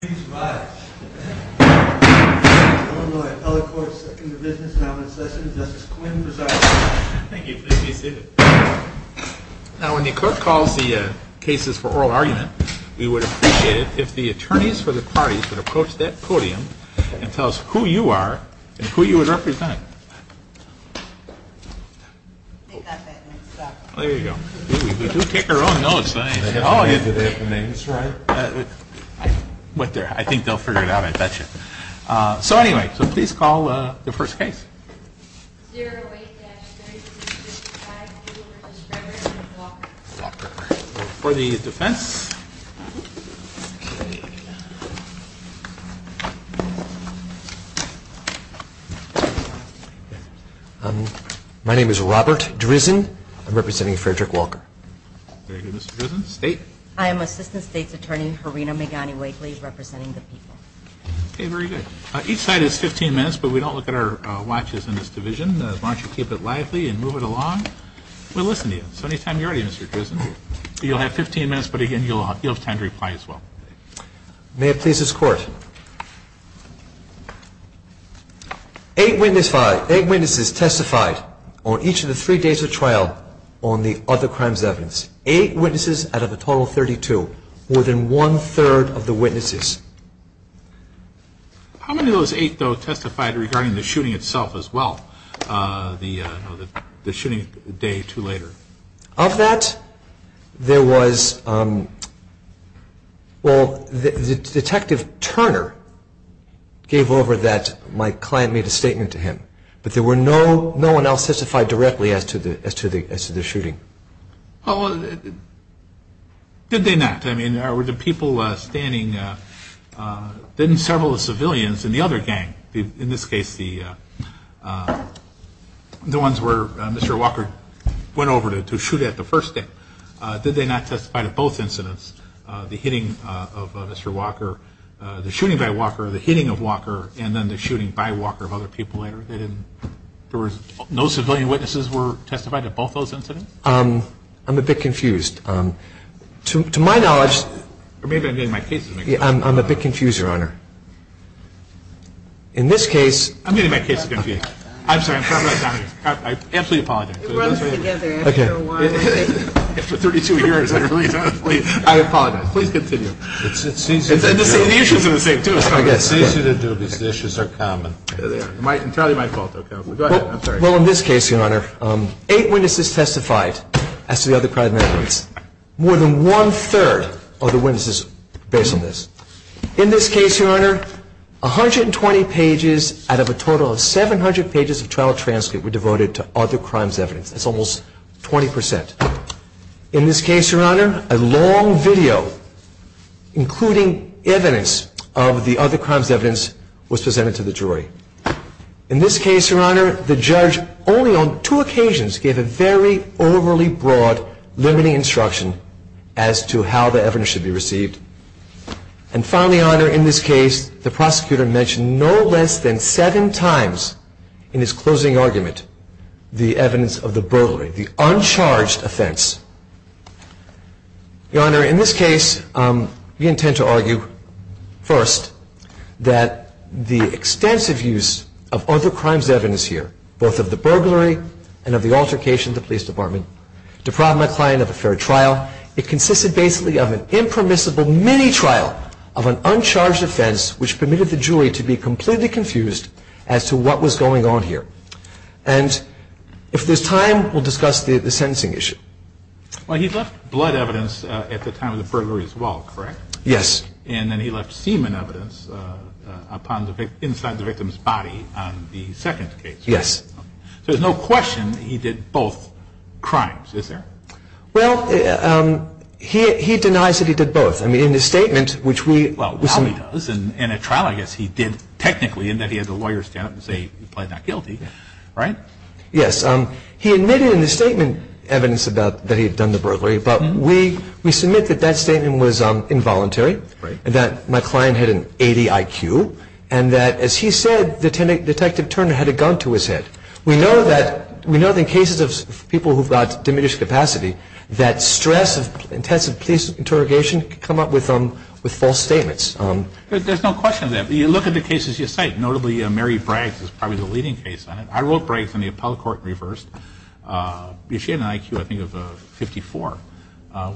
Now when the court calls the cases for oral argument, we would appreciate it if the attorneys for the parties would approach that podium and tell us who you are and who you would represent. I think they'll figure it out, I bet you. So anyway, please call the first case. 08-3655, you will represent Frederick Walker. My name is Robert Drizzen, I'm representing Frederick Walker. Very good, Mr. Drizzen. State? I am Assistant State's Attorney, Harina Megani-Wakely, representing the people. Okay, very good. Each side has 15 minutes, but we don't look at our watches in this division. Why don't you keep it lively and move it along? We'll listen to you. So anytime you're ready, Mr. Drizzen. You'll have 15 minutes, but again, you'll have time to reply as well. May it please this Court. Eight witnesses testified on each of the three days of trial on the other crimes of evidence. Eight witnesses out of a total of 32, more than one-third of the witnesses. How many of those eight, though, testified regarding the shooting itself as well, the shooting a day or two later? Of that, there was, well, Detective Turner gave over that. My client made a statement to him. But there were no one else testified directly as to the shooting. Well, did they not? I mean, were the people standing, then several civilians in the other gang, in this case the ones where Mr. Walker went over to shoot at the first day. Did they not testify to both incidents, the hitting of Mr. Walker, the shooting by Walker, the hitting of Walker, and then the shooting by Walker of other people later? There was no civilian witnesses were testified to both those incidents? I'm a bit confused. To my knowledge... Or maybe I'm getting my case confused. I'm a bit confused, Your Honor. In this case... I'm getting my case confused. I'm sorry. I'm sorry about that. I absolutely apologize. It runs together after a while. After 32 years. I apologize. Please continue. It's easier to do. The issues are the same, too. It's easier to do because the issues are common. Entirely my fault, though. Go ahead. I'm sorry. Well, in this case, Your Honor, eight witnesses testified as to the other crime incidents. More than one-third of the witnesses based on this. In this case, Your Honor, 120 pages out of a total of 700 pages of trial transcript were devoted to other crimes evidence. That's almost 20%. In this case, Your Honor, a long video including evidence of the other crimes evidence was presented to the jury. In this case, Your Honor, the judge only on two occasions gave a very overly broad limiting instruction as to how the evidence should be received. And finally, Your Honor, in this case, the prosecutor mentioned no less than seven times in his closing argument the evidence of the burglary. The uncharged offense. Your Honor, in this case, we intend to argue first that the extensive use of other crimes evidence here, both of the burglary and of the altercation of the police department, deprived my client of a fair trial. It consisted basically of an impermissible mini-trial of an uncharged offense, which permitted the jury to be completely confused as to what was going on here. And if there's time, we'll discuss the sentencing issue. Well, he left blood evidence at the time of the burglary as well, correct? Yes. And then he left semen evidence inside the victim's body on the second case. Yes. So there's no question he did both crimes, is there? Well, he denies that he did both. I mean, in his statement, which we – Well, while he does, in a trial I guess he did technically, in that he had the lawyer stand up and say he pleaded not guilty, right? Yes. He admitted in his statement evidence that he had done the burglary, but we submit that that statement was involuntary, that my client had an A.D.I.Q., and that, as he said, Detective Turner had a gun to his head. We know that in cases of people who've got diminished capacity, that stress of intensive police interrogation can come up with false statements. There's no question of that. You look at the cases you cite. Notably, Mary Bragg's is probably the leading case on it. I wrote Bragg's on the appellate court and reversed. She had an I.Q., I think, of 54,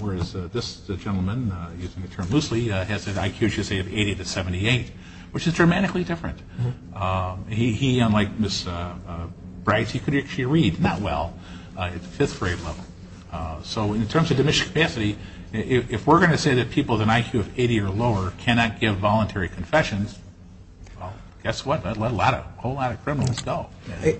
whereas this gentleman, using the term loosely, has an I.Q., I should say, of 80 to 78, which is dramatically different. He, unlike Ms. Bragg's, he could actually read not well at the fifth grade level. So in terms of diminished capacity, if we're going to say that people with an I.Q. of 80 or lower cannot give voluntary confessions, well, guess what? That would let a whole lot of criminals go.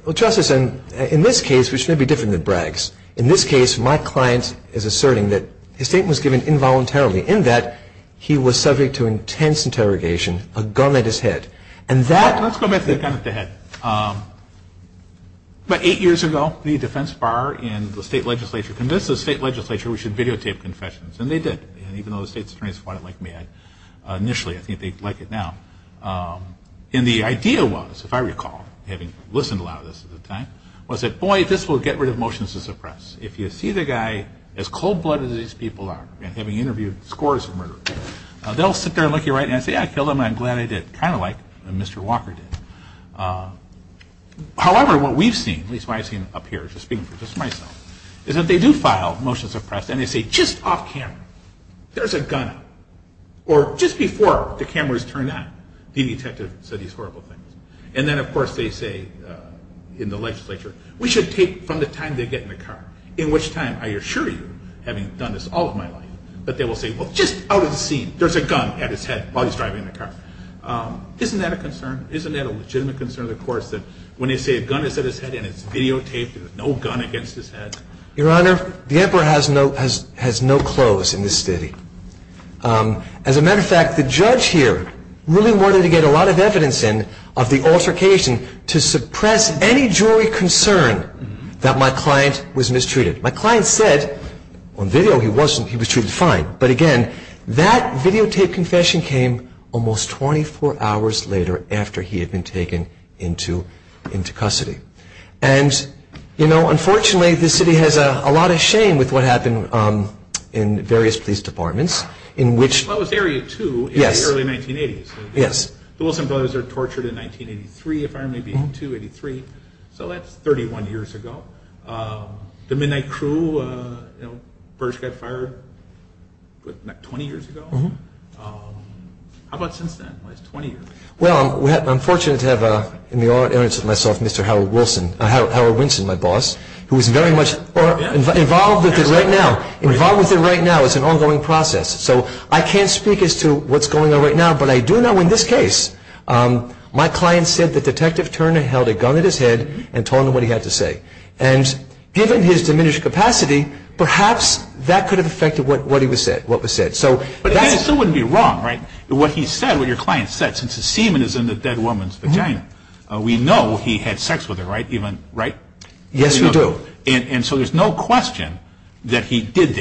Well, Justice, in this case, which may be different than Bragg's, in this case my client is asserting that his statement was given involuntarily, in that he was subject to intense interrogation, a gun at his head. Let's go back to the gun at the head. About eight years ago, the defense bar and the state legislature convinced the state legislature we should videotape confessions, and they did. And even though the state's attorneys fought it like mad initially, I think they like it now. And the idea was, if I recall, having listened to a lot of this at the time, was that, boy, this will get rid of motions to suppress. If you see the guy, as cold-blooded as these people are, and having interviewed scores of murderers, they'll sit there and look you right in the eye and say, yeah, I killed him, and I'm glad I did. Kind of like Mr. Walker did. However, what we've seen, at least what I've seen up here, just speaking for myself, is that they do file motions to suppress, and they say, just off camera, there's a gun. Or just before the cameras turn on, the detective said these horrible things. And then, of course, they say in the legislature, we should tape from the time they get in the car, in which time, I assure you, having done this all of my life, that they will say, well, just out of the scene, there's a gun at his head while he's driving in the car. Isn't that a concern? Isn't that a legitimate concern of the courts that when they say a gun is at his head and it's videotaped and there's no gun against his head? Your Honor, the emperor has no clothes in this city. As a matter of fact, the judge here really wanted to get a lot of evidence in of the altercation to suppress any jury concern that my client was mistreated. My client said on video he was treated fine. But again, that videotape confession came almost 24 hours later after he had been taken into custody. And, you know, unfortunately, this city has a lot of shame with what happened in various police departments. That was Area 2 in the early 1980s. Yes. The Wilson brothers were tortured in 1983, if I remember being, 2, 83. So that's 31 years ago. The Midnight Crew, you know, first got fired 20 years ago. How about since then? It's 20 years. Well, I'm fortunate to have in the audience with myself Mr. Howard Wilson, Howard Winston, my boss, who is very much involved with it right now. Involved with it right now. It's an ongoing process. So I can't speak as to what's going on right now, but I do know in this case, my client said that Detective Turner held a gun at his head and told him what he had to say. And given his diminished capacity, perhaps that could have affected what was said. But that still wouldn't be wrong, right? What he said, what your client said, since the semen is in the dead woman's vagina, we know he had sex with her, right? Yes, we do. And so there's no question that he did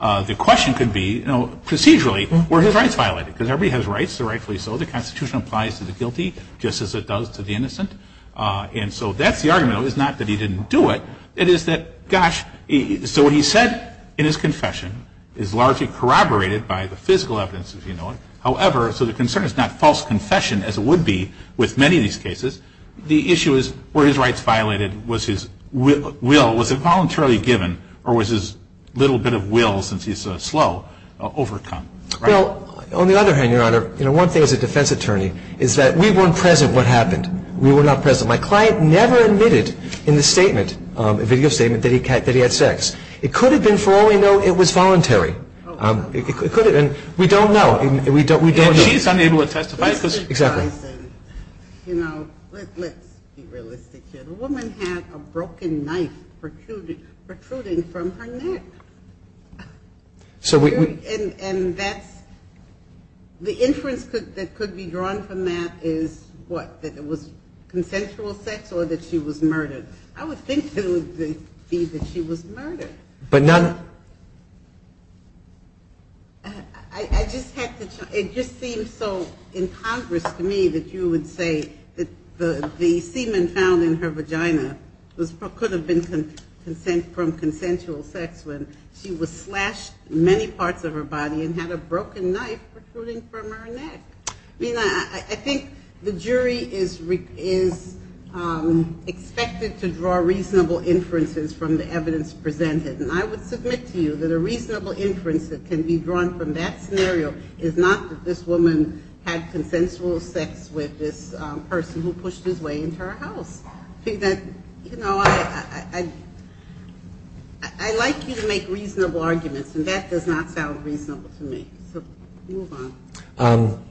that. The question could be, procedurally, were his rights violated? Because everybody has rights. They're rightfully so. The Constitution applies to the guilty just as it does to the innocent. And so that's the argument. It's not that he didn't do it. It is that, gosh, so what he said in his confession is largely corroborated by the physical evidence, as you know it. However, so the concern is not false confession as it would be with many of these cases. The issue is, were his rights violated? Was his will, was it voluntarily given? Or was his little bit of will, since he's slow, overcome? Well, on the other hand, Your Honor, one thing as a defense attorney is that we weren't present what happened. We were not present. My client never admitted in the statement, a video statement, that he had sex. It could have been, for all we know, it was voluntary. It could have been. We don't know. And she's unable to testify. Exactly. You know, let's be realistic here. The woman had a broken knife protruding from her neck. And that's, the inference that could be drawn from that is what? That it was consensual sex or that she was murdered? I would think it would be that she was murdered. But none. I just had to, it just seems so incongruous to me that you would say that the semen found in her vagina could have been from consensual sex when she was slashed in many parts of her body and had a broken knife protruding from her neck. I mean, I think the jury is expected to draw reasonable inferences from the evidence presented. And I would submit to you that a reasonable inference that can be drawn from that scenario is not that this woman had consensual sex with this person who pushed his way into her house. You know, I like you to make reasonable arguments, and that does not sound reasonable to me. So move on.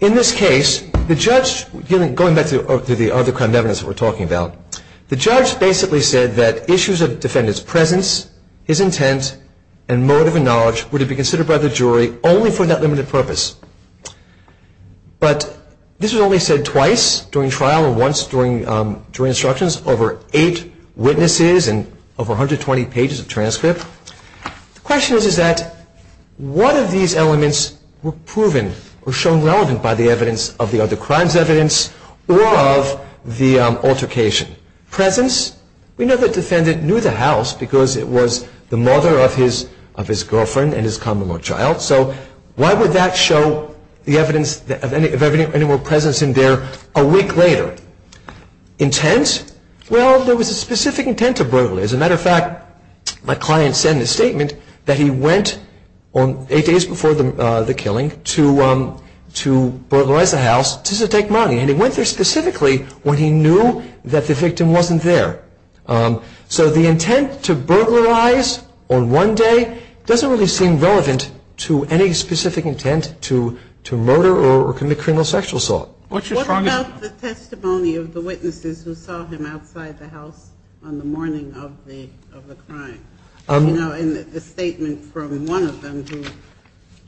In this case, the judge, going back to the other kind of evidence that we're talking about, the judge basically said that issues of defendant's presence, his intent, and motive and knowledge would be considered by the jury only for that limited purpose. But this was only said twice during trial and once during instructions, over eight witnesses and over 120 pages of transcript. The question is that what of these elements were proven or shown relevant by the evidence of the other crime's evidence or of the altercation? Presence, we know the defendant knew the house because it was the mother of his girlfriend and his common-law child. So why would that show the evidence of any more presence in there a week later? Intent, well, there was a specific intent to burglary. As a matter of fact, my client said in his statement that he went eight days before the killing to burglarize the house to take money, and he went there specifically when he knew that the victim wasn't there. So the intent to burglarize on one day doesn't really seem relevant to any specific intent to murder or commit criminal sexual assault. What about the testimony of the witnesses who saw him outside the house on the morning of the crime? You know, in the statement from one of them who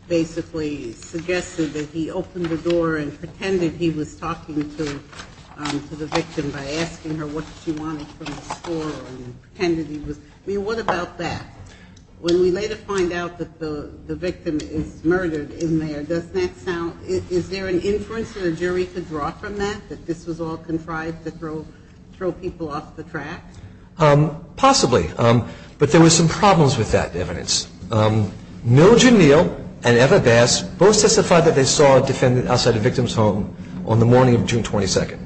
basically suggested that he opened the door and pretended he was talking to the victim by asking her what she wanted from the store and pretended he was I mean, what about that? When we later find out that the victim is murdered in there, doesn't that sound is there an inference that a jury could draw from that, that this was all contrived to throw people off the track? Possibly. But there were some problems with that evidence. Mildred Neal and Eva Bass both testified that they saw a defendant outside a victim's home on the morning of June 22nd.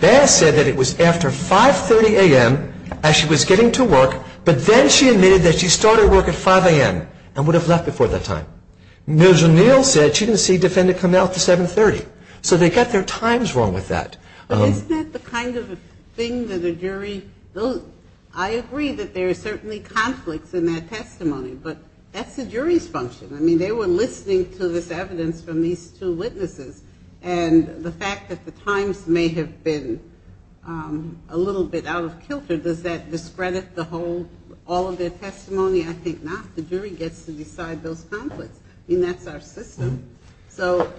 Bass said that it was after 5.30 a.m. as she was getting to work, but then she admitted that she started work at 5 a.m. and would have left before that time. Mildred Neal said she didn't see a defendant come out until 7.30, so they got their times wrong with that. Isn't that the kind of thing that a jury I agree that there are certainly conflicts in their testimony, but that's the jury's function. I mean, they were listening to this evidence from these two witnesses, and the fact that the times may have been a little bit out of kilter, does that discredit the whole, all of their testimony? I think not. The jury gets to decide those conflicts. I mean, that's our system. So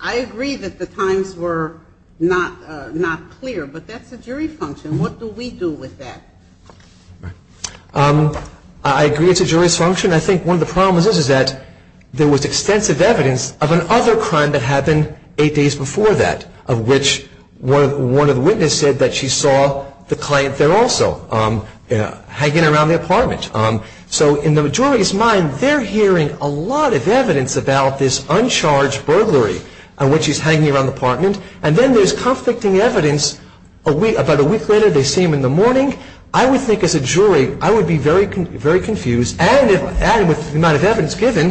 I agree that the times were not clear, but that's the jury function. What do we do with that? I agree it's a jury's function. I think one of the problems is that there was extensive evidence of another crime that happened eight days before that, of which one of the witnesses said that she saw the client there also, hanging around the apartment. So in the jury's mind, they're hearing a lot of evidence about this uncharged burglary, and what she's hanging around the apartment. And then there's conflicting evidence about a week later, they see him in the morning. I would think as a jury, I would be very confused. And with the amount of evidence given,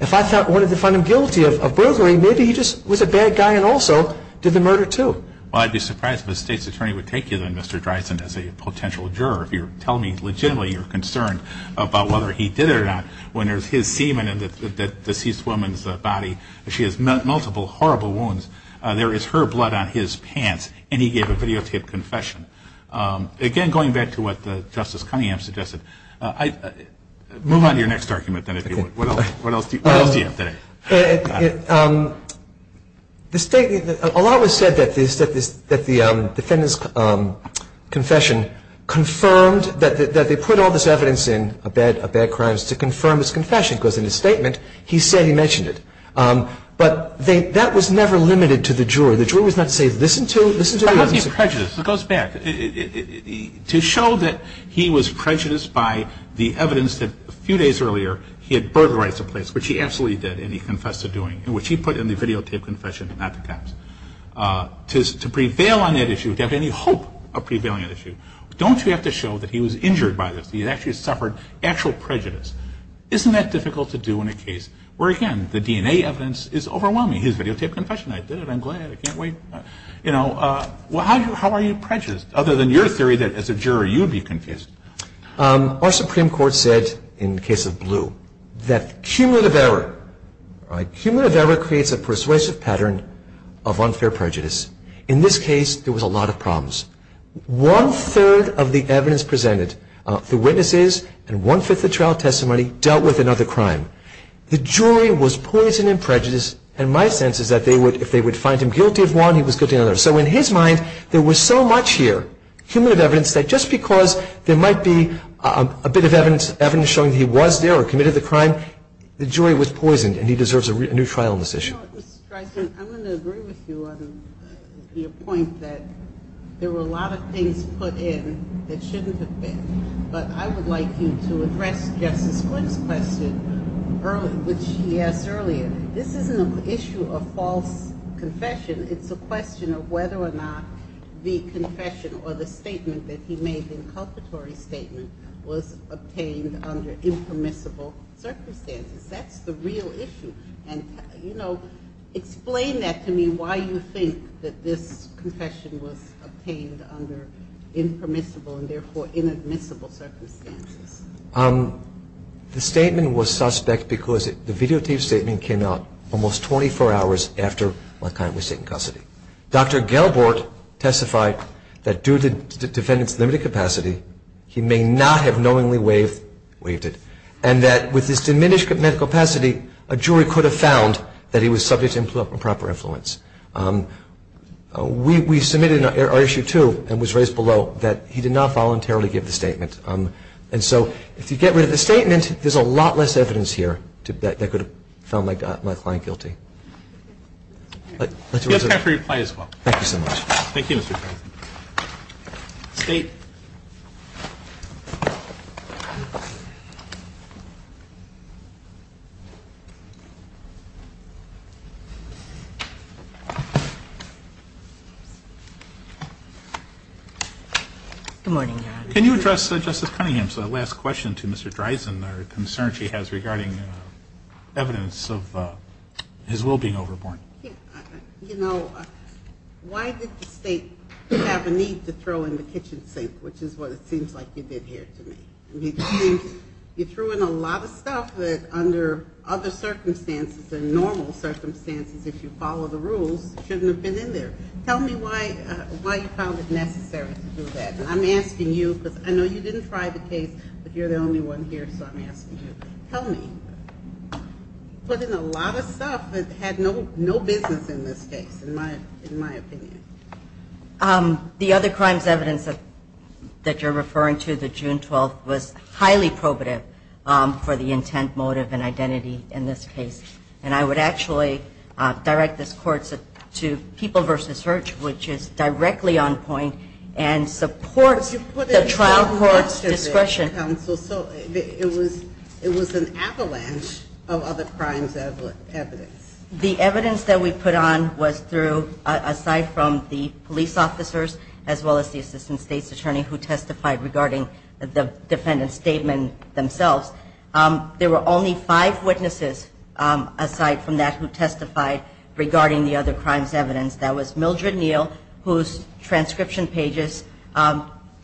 if I wanted to find him guilty of burglary, maybe he just was a bad guy and also did the murder, too. Well, I'd be surprised if a state's attorney would take you, then, Mr. Dryson, as a potential juror. If you're telling me legitimately you're concerned about whether he did it or not, when there's his semen in the deceased woman's body, and she has multiple horrible wounds, there is her blood on his pants, and he gave a videotaped confession. Again, going back to what Justice Cunningham suggested, move on to your next argument, then, if you would. What else do you have today? Well, a lot was said that the defendant's confession confirmed that they put all this evidence in, to confirm his confession, because in his statement, he said he mentioned it. But that was never limited to the juror. The juror was not to say, listen to the evidence. But how do you prejudice? It goes back. To show that he was prejudiced by the evidence that a few days earlier, he had burglarized a place, which he absolutely did, and he confessed to doing, which he put in the videotaped confession, not the cops. To prevail on that issue, to have any hope of prevailing on that issue, don't you have to show that he was injured by this? He actually suffered actual prejudice. Isn't that difficult to do in a case where, again, the DNA evidence is overwhelming? He has videotaped confession. I did it. I'm glad. I can't wait. You know, how are you prejudiced, other than your theory that, as a juror, you'd be confused? Our Supreme Court said, in the case of Blue, that cumulative error creates a persuasive pattern of unfair prejudice. In this case, there was a lot of problems. One-third of the evidence presented, the witnesses and one-fifth of the trial testimony, dealt with another crime. The jury was poisoned in prejudice, and my sense is that if they would find him guilty of one, he was guilty of another. So in his mind, there was so much here, cumulative evidence, that just because there might be a bit of evidence showing that he was there or committed the crime, the jury was poisoned and he deserves a new trial on this issue. I'm going to agree with you on your point that there were a lot of things put in that shouldn't have been. But I would like you to address Justice Quinn's question, which he asked earlier. This isn't an issue of false confession. It's a question of whether or not the confession or the statement that he made, the inculpatory statement, was obtained under impermissible circumstances. That's the real issue. Explain that to me, why you think that this confession was obtained under impermissible and therefore inadmissible circumstances. The statement was suspect because the videotaped statement came out almost 24 hours after Laquan was taken custody. Dr. Gelbort testified that due to the defendant's limited capacity, he may not have knowingly waived it, and that with his diminished medical capacity, a jury could have found that he was subject to improper influence. We submitted our issue, too, and was raised below, that he did not voluntarily give the statement. And so if you get rid of the statement, there's a lot less evidence here that could have found Laquan guilty. It's time for your reply as well. Thank you so much. Thank you, Mr. Quinn. State. Good morning, Your Honor. Can you address Justice Cunningham's last question to Mr. Dreisen, or concern she has regarding evidence of his will being overborne? You know, why did the State have a need to throw in the kitchen sink, which is what it seems like you did here to me? You threw in a lot of stuff that under other circumstances and normal circumstances, if you follow the rules, shouldn't have been in there. Tell me why you found it necessary to do that. I'm asking you because I know you didn't try the case, but you're the only one here, so I'm asking you. Tell me. You put in a lot of stuff that had no business in this case, in my opinion. The other crimes evidence that you're referring to, the June 12th, was highly probative for the intent, motive, and identity in this case. And I would actually direct this court to people versus search, which is directly on point and supports the trial court's discretion. So it was an avalanche of other crimes evidence. The evidence that we put on was through, aside from the police officers, as well as the Assistant State's Attorney who testified regarding the defendant's statement themselves, there were only five witnesses aside from that who testified regarding the other crimes evidence. That was Mildred Neal, whose transcription pages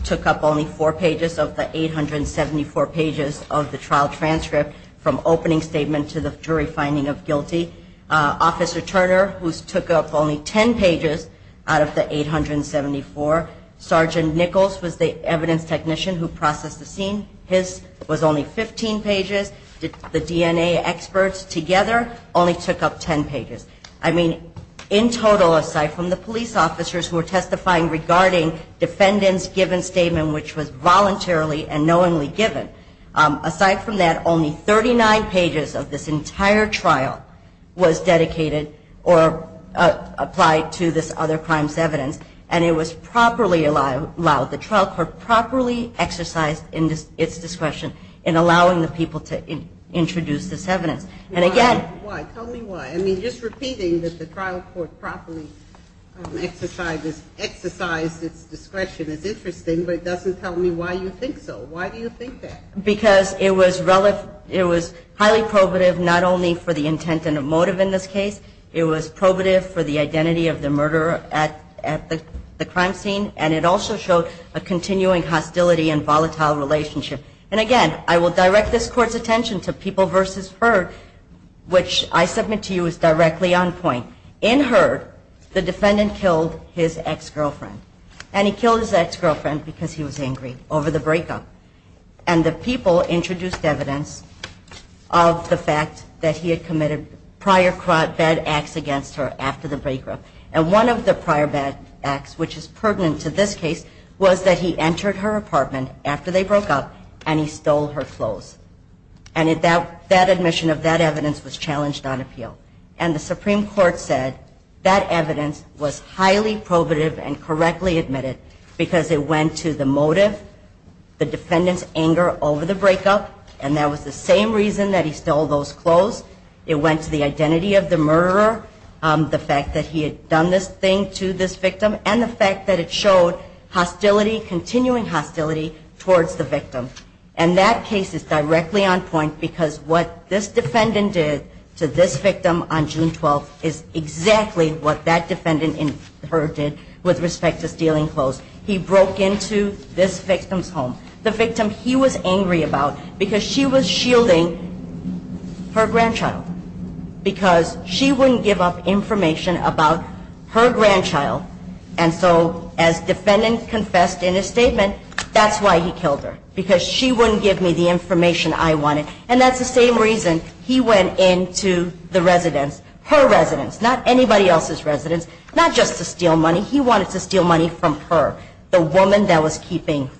took up only four pages of the 874 pages of the trial transcript, from opening statement to the jury finding of guilty. Officer Turner, whose took up only 10 pages out of the 874. Sergeant Nichols was the evidence technician who processed the scene. His was only 15 pages. The DNA experts together only took up 10 pages. I mean, in total, aside from the police officers who were testifying regarding defendant's given statement, which was voluntarily and knowingly given, aside from that, only 39 pages of this entire trial was dedicated or applied to this other crimes evidence. And it was properly allowed. The trial court properly exercised its discretion in allowing the people to introduce this evidence. And again – Why? Tell me why. I mean, just repeating that the trial court properly exercised its discretion is interesting, but it doesn't tell me why you think so. Why do you think that? Because it was highly probative not only for the intent and motive in this case, it was probative for the identity of the murderer at the crime scene, and it also showed a continuing hostility and volatile relationship. And again, I will direct this Court's attention to People v. Heard, which I submit to you is directly on point. In Heard, the defendant killed his ex-girlfriend. And he killed his ex-girlfriend because he was angry over the breakup. And the People introduced evidence of the fact that he had committed prior bad acts against her after the breakup. And one of the prior bad acts, which is pertinent to this case, was that he entered her apartment after they broke up and he stole her clothes. And that admission of that evidence was challenged on appeal. And the Supreme Court said that evidence was highly probative and correctly admitted because it went to the motive, the defendant's anger over the breakup, and that was the same reason that he stole those clothes. It went to the identity of the murderer, the fact that he had done this thing to this victim, and the fact that it showed hostility, continuing hostility towards the victim. And that case is directly on point because what this defendant did to this victim on June 12th is exactly what that defendant in Heard did with respect to stealing clothes. He broke into this victim's home. The victim he was angry about because she was shielding her grandchild because she wouldn't give up information about her grandchild. And so as defendant confessed in his statement, that's why he killed her because she wouldn't give me the information I wanted. And that's the same reason he went into the residence, her residence, not anybody else's residence, not just to steal money. He wanted to steal money from her, the woman that was keeping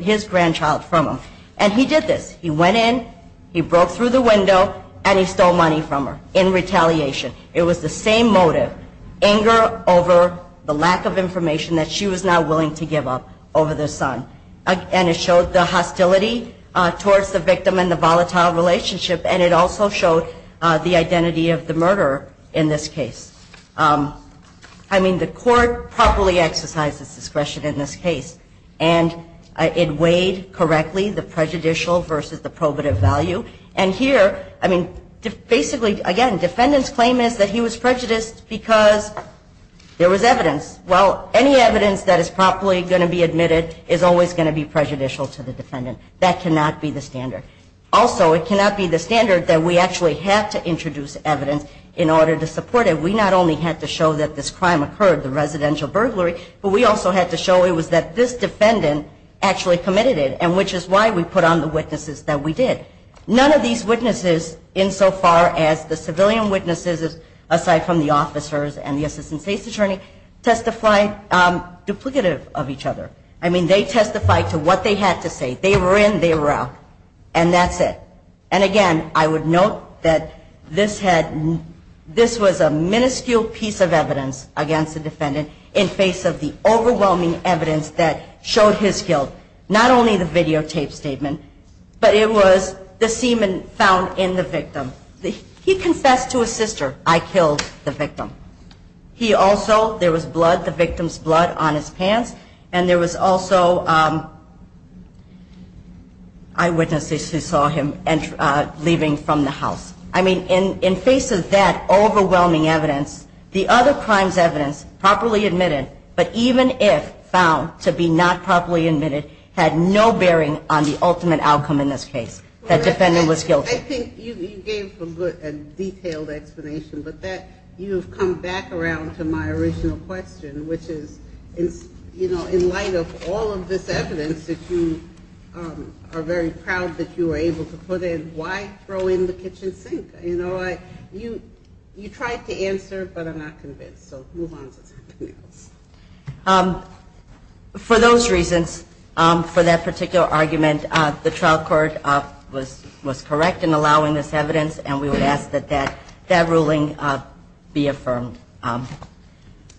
his grandchild from him. And he did this. He went in, he broke through the window, and he stole money from her in retaliation. It was the same motive, anger over the lack of information that she was not willing to give up over the son. And it showed the hostility towards the victim and the volatile relationship, and it also showed the identity of the murderer in this case. I mean, the court properly exercised its discretion in this case, and it weighed correctly the prejudicial versus the probative value. And here, I mean, basically, again, defendant's claim is that he was prejudiced because there was evidence. Well, any evidence that is properly going to be admitted is always going to be prejudicial to the defendant. That cannot be the standard. Also, it cannot be the standard that we actually have to introduce evidence in order to support it. We not only had to show that this crime occurred, the residential burglary, but we also had to show it was that this defendant actually committed it, and which is why we put on the witnesses that we did. None of these witnesses, insofar as the civilian witnesses aside from the officers and the assistant state's attorney, testified duplicative of each other. I mean, they testified to what they had to say. They were in, they were out, and that's it. And again, I would note that this was a minuscule piece of evidence against the defendant in face of the overwhelming evidence that showed his guilt, not only the videotaped statement, but it was the semen found in the victim. He confessed to his sister, I killed the victim. He also, there was blood, the victim's blood on his pants, and there was also eyewitnesses who saw him leaving from the house. I mean, in face of that overwhelming evidence, the other crime's evidence, properly admitted, but even if found to be not properly admitted, had no bearing on the ultimate outcome in this case, that defendant was guilty. I think you gave a good and detailed explanation, but that, you've come back around to my original question, which is, you know, in light of all of this evidence that you are very proud that you were able to put in, why throw in the kitchen sink? You know, you tried to answer, but I'm not convinced, so move on to something else. For those reasons, for that particular argument, the trial court was correct in allowing this evidence, and we would ask that that ruling be affirmed.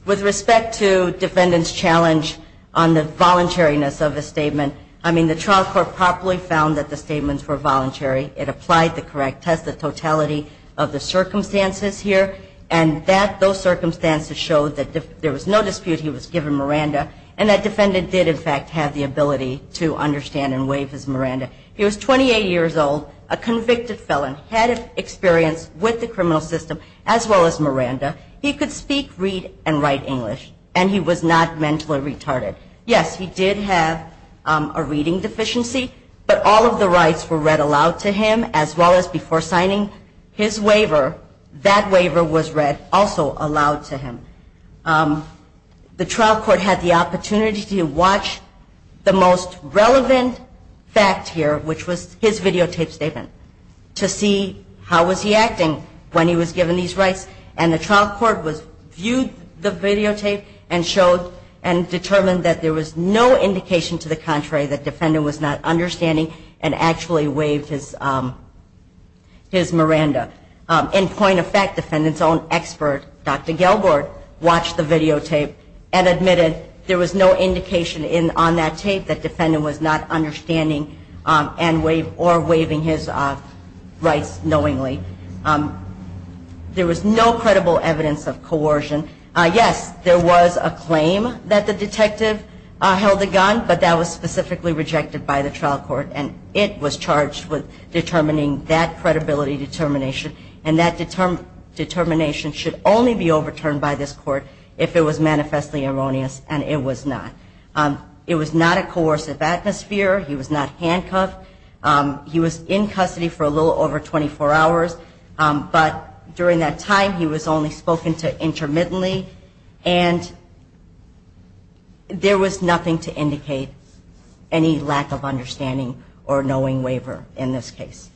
With respect to defendant's challenge on the voluntariness of the statement, I mean, the trial court properly found that the statements were voluntary. It applied the correct test of totality of the circumstances here, and that those circumstances showed that there was no dispute he was given Miranda, and that defendant did, in fact, have the ability to understand and waive his Miranda. He was 28 years old, a convicted felon, had experience with the criminal system, as well as Miranda. He could speak, read, and write English, and he was not mentally retarded. Yes, he did have a reading deficiency, but all of the rights were read aloud to him, as well as before signing his waiver, that waiver was read also aloud to him. The trial court had the opportunity to watch the most relevant fact here, which was his videotaped statement, to see how was he acting when he was given these rights, and the trial court viewed the videotape and determined that there was no indication to the contrary that defendant was not understanding and actually waived his Miranda. In point of fact, defendant's own expert, Dr. Gelbort, watched the videotape and admitted there was no indication on that tape that defendant was not understanding or waiving his rights knowingly. There was no credible evidence of coercion. Yes, there was a claim that the detective held a gun, but that was specifically rejected by the trial court, and it was charged with determining that credibility determination, and that determination should only be overturned by this court if it was manifestly erroneous, and it was not. It was not a coercive atmosphere. He was not handcuffed. He was in custody for a little over 24 hours, but during that time he was only spoken to intermittently, and there was nothing to indicate any lack of understanding or knowing waiver in this case.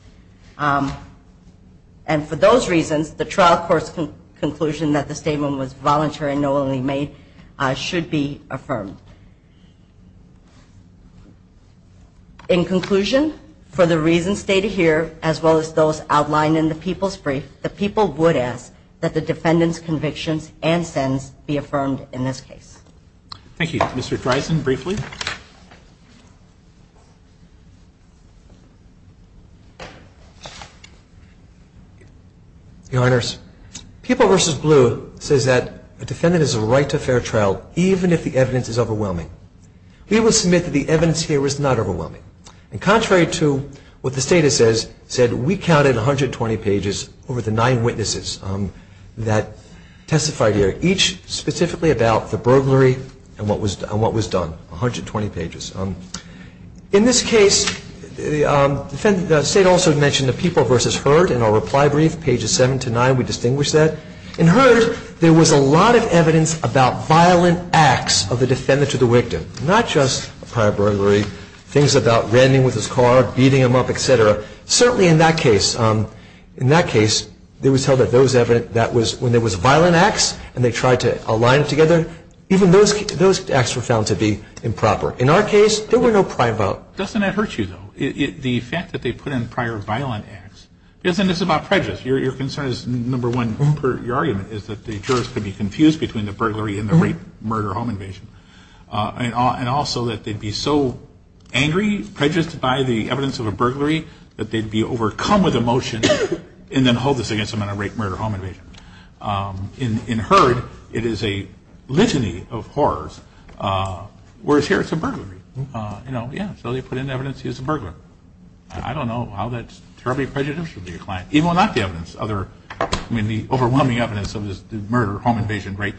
And for those reasons, the trial court's conclusion that the statement was voluntary and knowingly made should be affirmed. In conclusion, for the reasons stated here, as well as those outlined in the People's Brief, the people would ask that the defendant's convictions and sins be affirmed in this case. Thank you. Mr. Dreisen, briefly. Your Honors, People v. Blue says that a defendant has a right to a fair trial, even if the evidence is overwhelming. We will submit that the evidence here is not overwhelming, and contrary to what the State has said, we counted 120 pages over the nine witnesses that testified here, each specifically about the burglary and what was done, 120 pages. In this case, the State also mentioned the People v. Heard in our reply brief, pages 7 to 9. We distinguished that. In Heard, there was a lot of evidence about violent acts of the defendant to the victim, not just prior burglary, things about ramming with his car, beating him up, et cetera. Certainly in that case, there was evidence that when there was violent acts and they tried to align together, even those acts were found to be improper. In our case, there were no prior violent acts. Doesn't that hurt you, though? The fact that they put in prior violent acts, isn't this about prejudice? Your concern is, number one, your argument, is that the jurors could be confused between the burglary and the rape-murder-home invasion, and also that they'd be so angry, prejudiced by the evidence of a burglary, that they'd be overcome with emotion and then hold this against them in a rape-murder-home invasion. In Heard, it is a litany of horrors, whereas here it's a burglary. Yeah, so they put in evidence he's a burglar. I don't know how that's terribly prejudicial to your client. Even without the evidence, I mean the overwhelming evidence of the murder-home invasion-rape,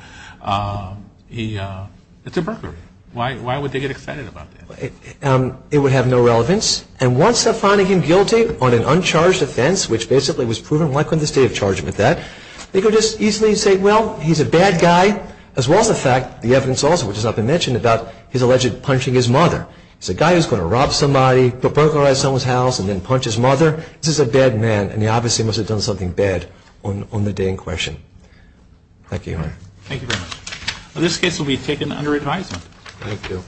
it's a burglary. Why would they get excited about that? It would have no relevance. And once they're finding him guilty on an uncharged offense, which basically was proven likely in the state of charge with that, they could just easily say, well, he's a bad guy, as well as the fact, the evidence also, which has not been mentioned, about his alleged punching his mother. He's a guy who's going to rob somebody, go burglarize someone's house, and then punch his mother. This is a bad man, and he obviously must have done something bad on the day in question. Thank you. Thank you very much. This case will be taken under advisement. Thank you.